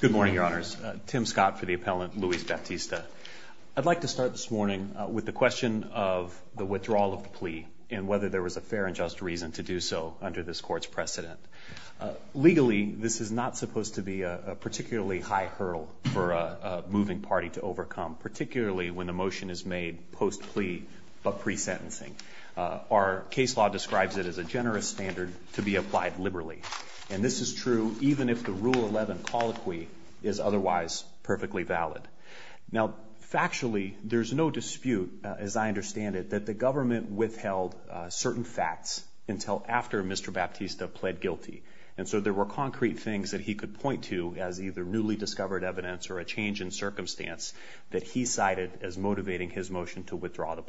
Good morning, Your Honors. Tim Scott for the appellant, Luiz Baptista. I'd like to start this morning with the question of the withdrawal of the plea and whether there was a fair and just reason to do so under this court's precedent. Legally this is not supposed to be a particularly high hurdle for a moving party to overcome, particularly when the motion is made post plea but pre sentencing. Our case law describes it as a generous standard to be applied liberally and this is true even if the rule 11 colloquy is otherwise perfectly valid. Now factually there's no dispute as I understand it that the government withheld certain facts until after Mr. Baptista pled guilty and so there were concrete things that he could point to as either newly discovered evidence or a change in circumstance that he cited as motivating his motion to withdraw the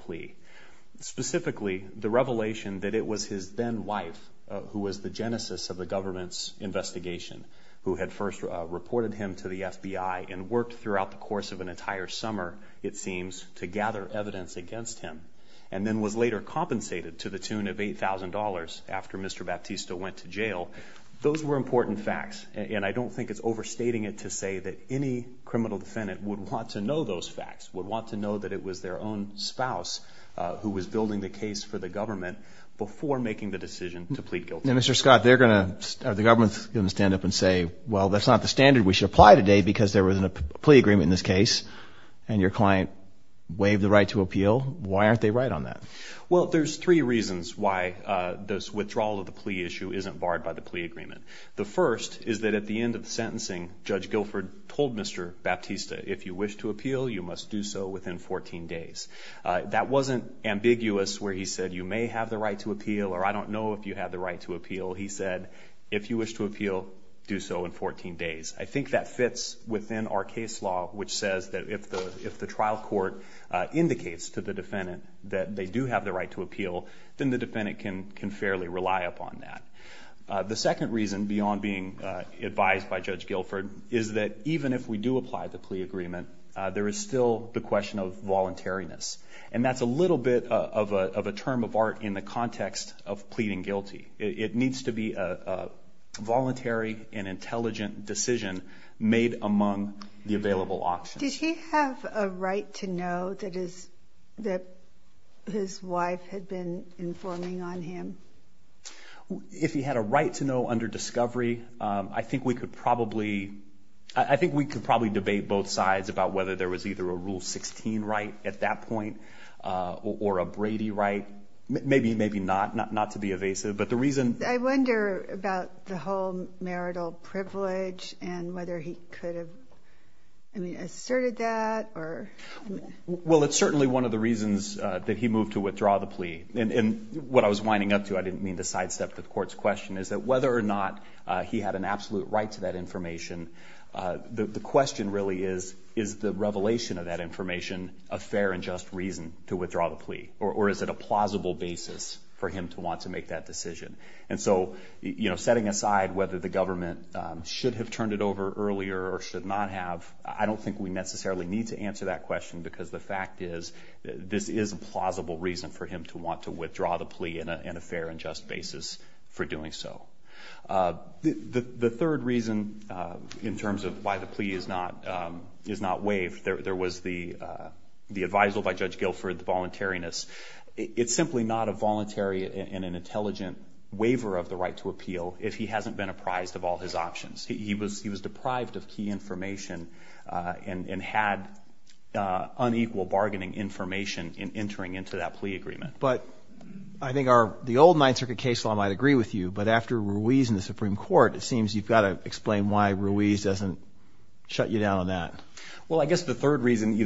investigation who had first reported him to the FBI and worked throughout the course of an entire summer, it seems, to gather evidence against him and then was later compensated to the tune of $8,000 after Mr. Baptista went to jail. Those were important facts and I don't think it's overstating it to say that any criminal defendant would want to know those facts, would want to know that it was their own spouse who was building the case for the government before making the decision to plead guilty. Now Mr. Scott they're gonna, the government's gonna stand up and say well that's not the standard we should apply today because there was a plea agreement in this case and your client waived the right to appeal. Why aren't they right on that? Well there's three reasons why this withdrawal of the plea issue isn't barred by the plea agreement. The first is that at the end of the sentencing Judge Guilford told Mr. Baptista if you wish to appeal you must do so within 14 days. That wasn't ambiguous where he said you may have the right to appeal or I don't know if you have the right to appeal. He said if you wish to appeal do so in 14 days. I think that fits within our case law which says that if the if the trial court indicates to the defendant that they do have the right to appeal then the defendant can can fairly rely upon that. The second reason beyond being advised by Judge Guilford is that even if we do apply the plea agreement there is still the question of art in the context of pleading guilty. It needs to be a voluntary and intelligent decision made among the available options. Did he have a right to know that is that his wife had been informing on him? If he had a right to know under discovery I think we could probably I think we could probably debate both sides about whether there was either a rule 16 right at that point or a Brady right. Maybe maybe not not not to be evasive but the reason I wonder about the whole marital privilege and whether he could have I mean asserted that or well it's certainly one of the reasons that he moved to withdraw the plea and what I was winding up to I didn't mean to sidestep the court's question is that whether or not he had an absolute right to that information the question really is is the revelation of that information a fair and just reason to withdraw the plea or is it a plausible basis for him to want to make that decision and so you know setting aside whether the government should have turned it over earlier or should not have I don't think we necessarily need to answer that question because the fact is this is a plausible reason for him to want to withdraw the plea in a fair and just basis for doing so. The third reason in terms of why the plea is not is not waived there was the the advisal by Judge Guilford the voluntariness it's simply not a voluntary and an intelligent waiver of the right to appeal if he hasn't been apprised of all his options he was he was deprived of key information and and had unequal bargaining information in entering into that plea agreement. But I think our the old Ninth Circuit case law might agree with you but after Ruiz in the Supreme Court it seems you've got to explain why Ruiz doesn't shut you down on that. Well the reason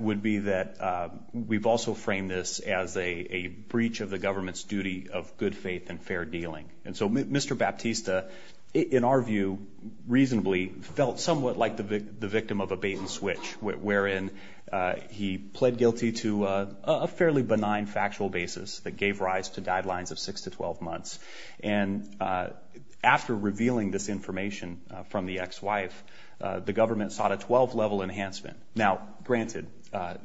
would be that we've also framed this as a breach of the government's duty of good faith and fair dealing and so mr. Baptista in our view reasonably felt somewhat like the victim of a bait-and-switch wherein he pled guilty to a fairly benign factual basis that gave rise to guidelines of six to twelve months and after revealing this information from the ex-wife the government sought a 12 level enhancement now granted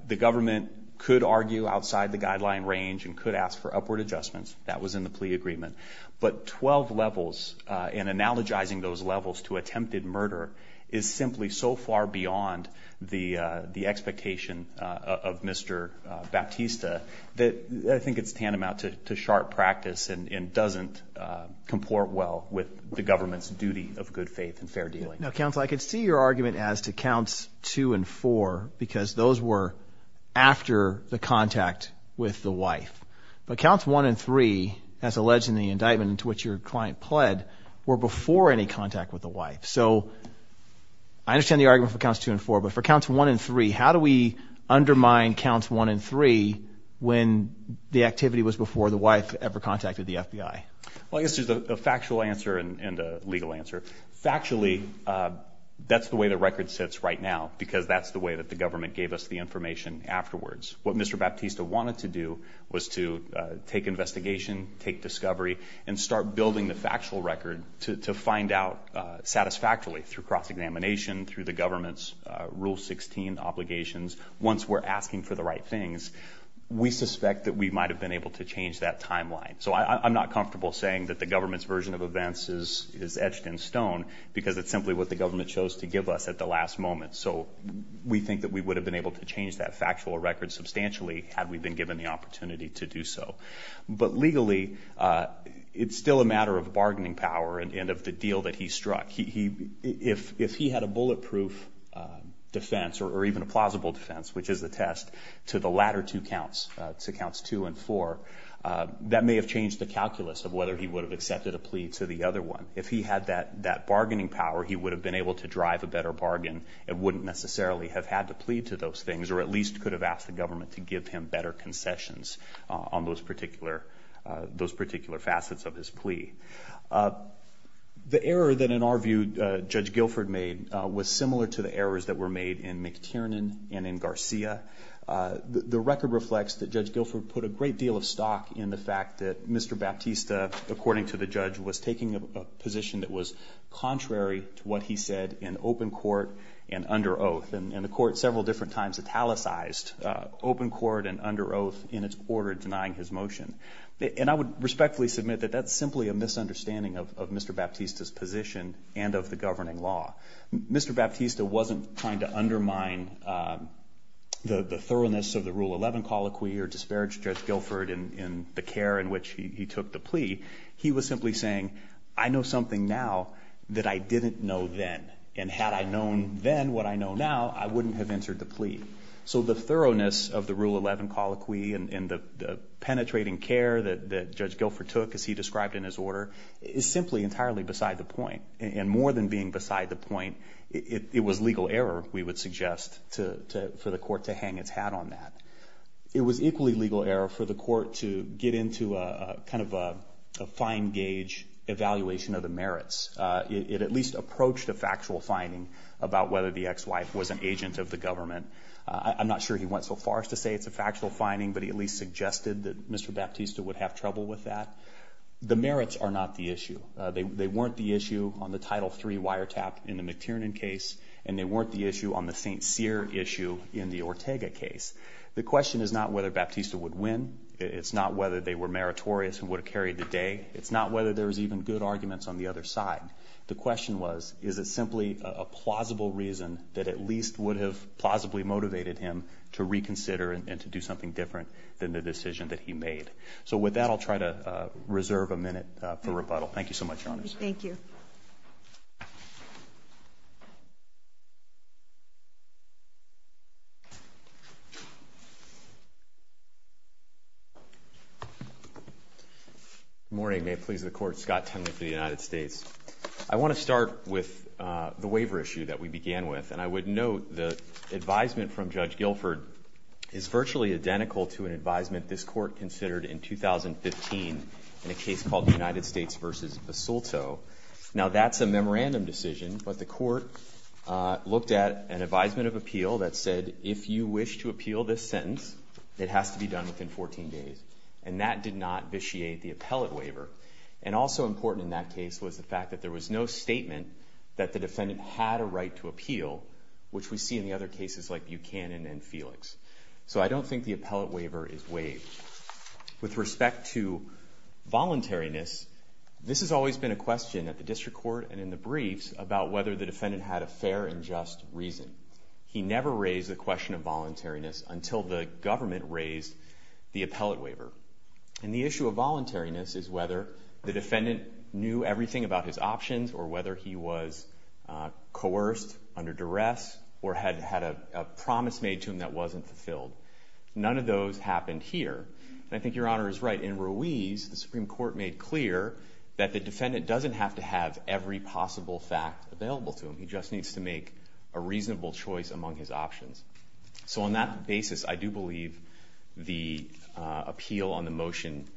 the government could argue outside the guideline range and could ask for upward adjustments that was in the plea agreement but 12 levels and analogizing those levels to attempted murder is simply so far beyond the the expectation of mr. Baptista that I think it's tantamount to sharp practice and doesn't comport well with the government's duty of good faith and fair dealing. Now counsel I could see your argument as to counts two and four because those were after the contact with the wife but counts one and three as alleged in the indictment into which your client pled were before any contact with the wife so I understand the argument for counts two and four but for counts one and three how do we undermine counts one and three when the activity was before the wife ever contacted the FBI? Well I guess there's a factual answer and a legal answer factually that's the way the record sits right now because that's the way that the government gave us the information afterwards what mr. Baptista wanted to do was to take investigation take discovery and start building the factual record to find out satisfactorily through cross-examination through the government's rule 16 obligations once we're asking for the right things we suspect that we might have been able to change that timeline so I'm not comfortable saying that the government's version of events is is etched in stone because it's simply what the government chose to give us at the last moment so we think that we would have been able to change that factual record substantially had we been given the opportunity to do so but legally it's still a matter of bargaining power and of the deal that he struck he if if he had a bulletproof defense or even a plausible defense which is the test to the latter two counts to counts two and four that may have changed the calculus of whether he bargaining power he would have been able to drive a better bargain it wouldn't necessarily have had to plead to those things or at least could have asked the government to give him better concessions on those particular those particular facets of his plea the error that in our view judge Guilford made was similar to the errors that were made in McTiernan and in Garcia the record reflects that judge Guilford put a great deal of stock in the fact that mr. Baptista according to the judge was taking a position that was contrary to what he said in open court and under oath and the court several different times italicized open court and under oath in its quarter denying his motion and I would respectfully submit that that's simply a misunderstanding of mr. Baptista's position and of the governing law mr. Baptista wasn't trying to undermine the the thoroughness of the rule 11 colloquy or disparage judge in the care in which he took the plea he was simply saying I know something now that I didn't know then and had I known then what I know now I wouldn't have entered the plea so the thoroughness of the rule 11 colloquy and the penetrating care that judge Guilford took as he described in his order is simply entirely beside the point and more than being beside the point it was legal error we would suggest to for the court to hang its hat on that it was equally legal error for the court to get into a kind of a fine gauge evaluation of the merits it at least approached a factual finding about whether the ex-wife was an agent of the government I'm not sure he went so far as to say it's a factual finding but he at least suggested that mr. Baptista would have trouble with that the merits are not the issue they weren't the issue on the title 3 wiretap in the McTiernan case and they weren't the issue on the st. seer issue in the Ortega case the question is not whether Baptista would win it's not whether they were meritorious and would carry the day it's not whether there was even good arguments on the other side the question was is it simply a plausible reason that at least would have plausibly motivated him to reconsider and to do something different than the decision that he made so with that I'll try to reserve a minute for rebuttal thank you so much honest thank you you morning may it please the court Scott Tenley for the United States I want to start with the waiver issue that we began with and I would note the advisement from Judge Guilford is virtually identical to an advisement this court considered in 2015 in a case called the United States versus Basulto now that's a memorandum decision but the court looked at an advisement of appeal that said if you wish to appeal this sentence it has to be done within 14 days and that did not vitiate the appellate waiver and also important in that case was the fact that there was no statement that the defendant had a right to appeal which we see in the other cases like Buchanan and Felix so I don't think the appellate waiver is waived with respect to voluntariness this has always been a question at the district court and in the briefs about whether the defendant had a fair and just reason he never raised the question of voluntariness until the government raised the appellate waiver and the issue of voluntariness is whether the defendant knew everything about his options or whether he was coerced under duress or had had a promise made to him that wasn't fulfilled none of those happened here and I think your honor is right in Ruiz the Supreme Court made clear that the defendant doesn't have to fact available to him he just needs to make a reasonable choice among his options so on that basis I do believe the appeal on the motion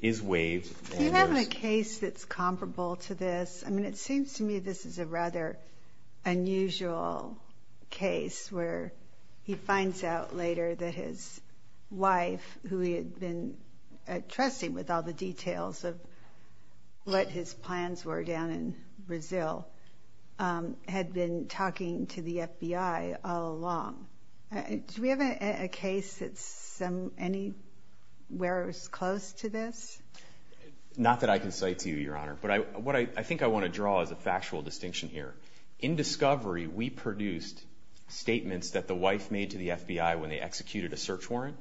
is waived you have a case that's comparable to this I mean it seems to me this is a rather unusual case where he finds out later that his wife who he had been trusting with all the details of what his plans were down in Brazil had been talking to the FBI all along do we have a case that's some any where it was close to this not that I can say to you your honor but I what I think I want to draw is a factual distinction here in discovery we produced statements that the wife made to the FBI when they executed a search warrant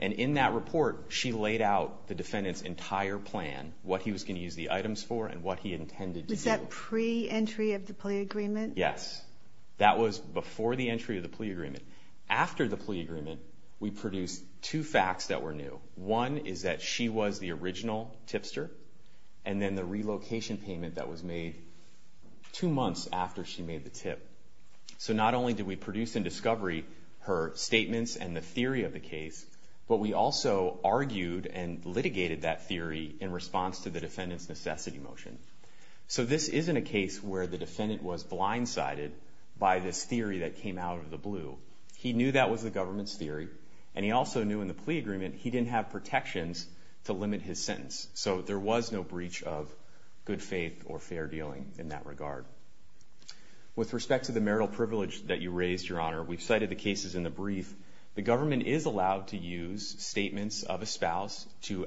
and in that report she laid out the defendant's entire plan what he was going to use the items for and what he intended was that pre-entry of the plea agreement yes that was before the entry of the plea agreement after the plea agreement we produced two facts that were new one is that she was the original tipster and then the relocation payment that was made two months after she made the tip so not only did we produce in discovery her statements and the theory of the but we also argued and litigated that theory in response to the defendant's necessity motion so this isn't a case where the defendant was blindsided by this theory that came out of the blue he knew that was the government's theory and he also knew in the plea agreement he didn't have protections to limit his sentence so there was no breach of good faith or fair dealing in that regard with respect to the marital privilege that you raised your honor we cited the brief the government is allowed to use statements of a spouse to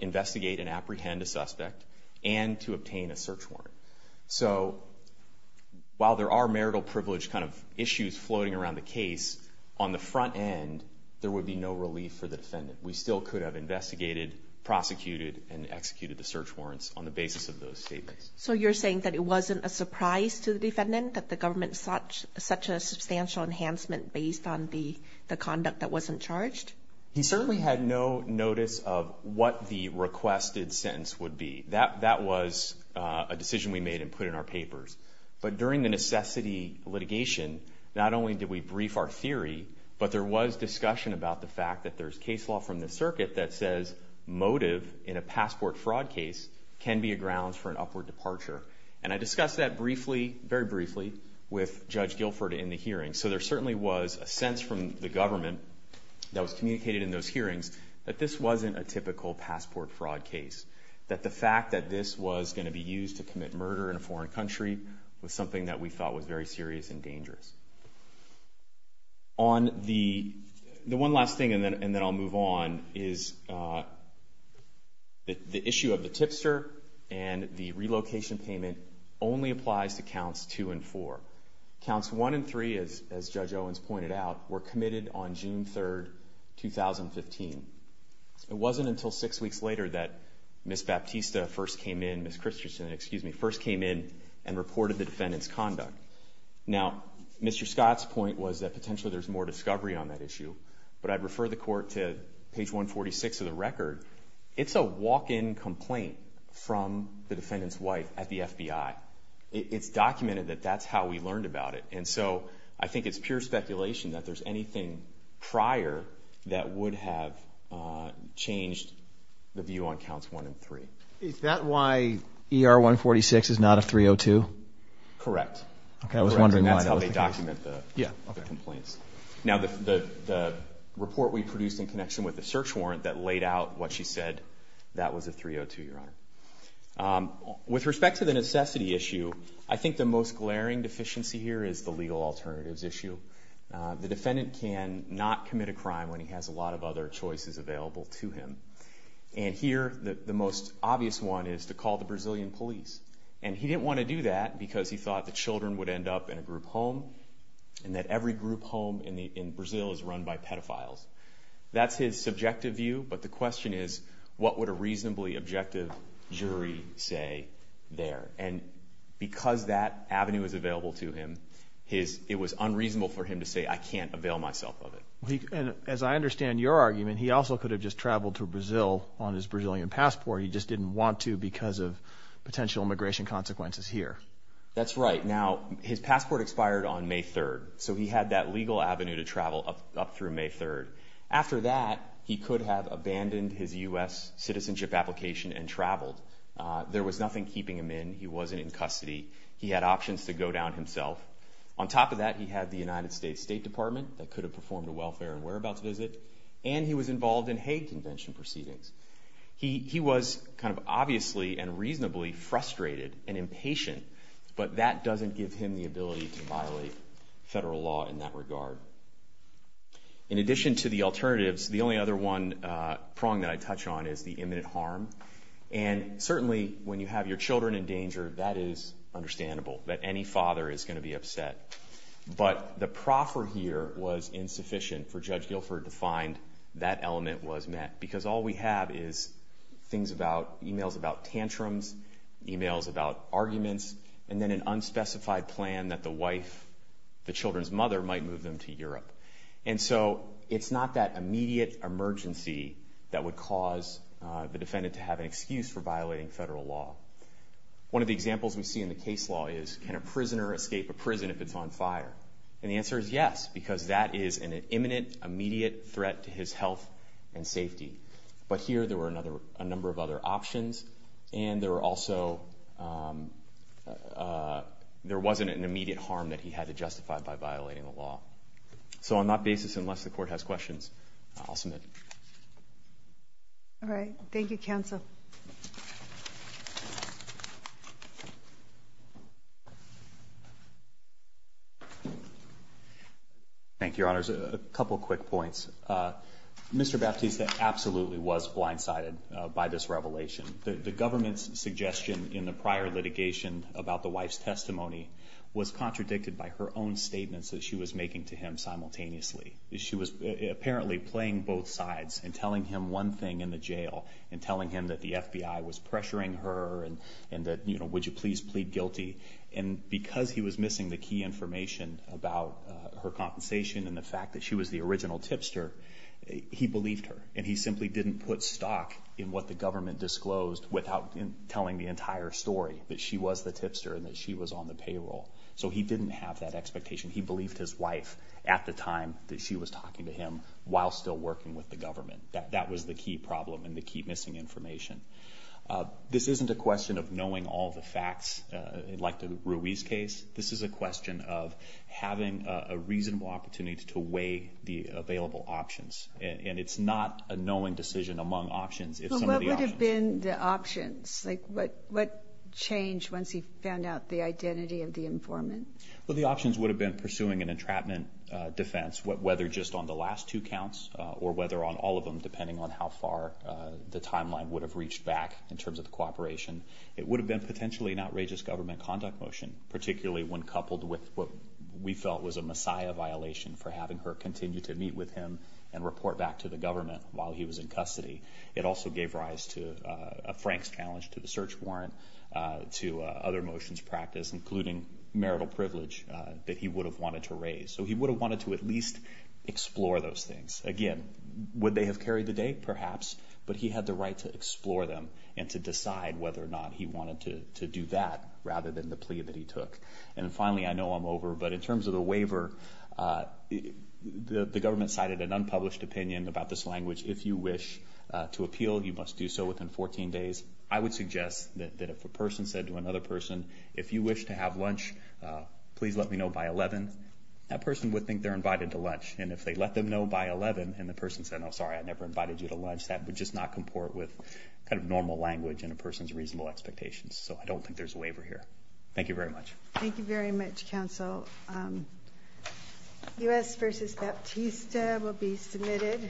investigate and apprehend a suspect and to obtain a search warrant so while there are marital privilege kind of issues floating around the case on the front end there would be no relief for the defendant we still could have investigated prosecuted and executed the search warrants on the basis of those statements so you're saying that it wasn't a surprise to the defendant that the government such such a substantial enhancement based on the the conduct that wasn't charged he certainly had no notice of what the requested sentence would be that that was a decision we made and put in our papers but during the necessity litigation not only did we brief our theory but there was discussion about the fact that there's case law from the circuit that says motive in a passport fraud case can be a grounds for an upward departure and I with judge Guilford in the hearing so there certainly was a sense from the government that was communicated in those hearings that this wasn't a typical passport fraud case that the fact that this was going to be used to commit murder in a foreign country with something that we thought was very serious and dangerous on the the one last thing and then and then I'll move on is that the issue of the tipster and the relocation payment only applies to and for counts one and three is as judge Owens pointed out were committed on June 3rd 2015 it wasn't until six weeks later that miss Baptista first came in miss Christensen excuse me first came in and reported the defendants conduct now mr. Scott's point was that potentially there's more discovery on that issue but I'd refer the court to page 146 of the record it's a walk-in complaint from the defendant's wife at the FBI it's documented that that's how we learned about it and so I think it's pure speculation that there's anything prior that would have changed the view on counts one and three is that why er 146 is not a 302 correct now the report we produced in connection with the with respect to the necessity issue I think the most glaring deficiency here is the legal alternatives issue the defendant can not commit a crime when he has a lot of other choices available to him and here the most obvious one is to call the Brazilian police and he didn't want to do that because he thought the children would end up in a group home and that every group home in the in Brazil is run by pedophiles that's his subjective view but the question is what would a reasonably objective jury say there and because that Avenue is available to him his it was unreasonable for him to say I can't avail myself of it and as I understand your argument he also could have just traveled to Brazil on his Brazilian passport he just didn't want to because of potential immigration consequences here that's right now his passport expired on May 3rd so he had that legal Avenue to travel up through May 3rd after that he could have abandoned his US citizenship application and traveled there was nothing keeping him in he wasn't in custody he had options to go down himself on top of that he had the United States State Department that could have performed a welfare and whereabouts visit and he was involved in Hague Convention proceedings he was kind of obviously and reasonably frustrated and impatient but that doesn't give him the ability to violate federal law in that prong that I touch on is the imminent harm and certainly when you have your children in danger that is understandable that any father is going to be upset but the proffer here was insufficient for judge Guilford to find that element was met because all we have is things about emails about tantrums emails about arguments and then an unspecified plan that the wife the children's mother might move them to Europe and so it's not that immediate emergency that would cause the defendant to have an excuse for violating federal law one of the examples we see in the case law is can a prisoner escape a prison if it's on fire and the answer is yes because that is an imminent immediate threat to his health and safety but here there were another a number of other options and there were also there wasn't an immediate harm that he had to justify by violating the law so on that basis unless the court has questions I'll submit all right thank you counsel thank your honors a couple quick points mr. Baptiste that absolutely was blindsided by this revelation the government's suggestion in the prior litigation about the wife's testimony was contradicted by her own statements that she was making to him simultaneously she was apparently playing both sides and telling him one thing in the jail and telling him that the FBI was pressuring her and and that you know would you please plead guilty and because he was missing the key information about her compensation and the fact that she was the original tipster he believed her and he simply didn't put stock in what the government disclosed without telling the entire story that she was the tipster and that she was on the payroll so he didn't have that expectation he believed his wife at the time that she was talking to him while still working with the government that that was the key problem and the key missing information this isn't a question of knowing all the facts like the Ruiz case this is a question of having a reasonable opportunity to weigh the available options and it's not a knowing decision among options it would have been the options like what what changed once he found out the identity of the informant well the options would have been pursuing an entrapment defense what whether just on the last two counts or whether on all of them depending on how far the timeline would have reached back in terms of the cooperation it would have been potentially an outrageous government conduct motion particularly when coupled with what we felt was a Messiah violation for having her continue to meet with him and report back to the government while he was in custody it also gave rise to a Frank's challenge to the search warrant to other motions practice including marital privilege that he would have wanted to raise so he would have wanted to at least explore those things again would they have carried the date perhaps but he had the right to explore them and to decide whether or not he wanted to do that rather than the plea that he took and finally I know I'm over but in terms of the waiver the government cited an unpublished opinion about this language if you wish to appeal you must do so another person if you wish to have lunch please let me know by 11 that person would think they're invited to lunch and if they let them know by 11 and the person said oh sorry I never invited you to lunch that would just not comport with kind of normal language and a person's reasonable expectations so I don't think there's a waiver here thank you very much thank you very much counsel us versus Baptista will be submitted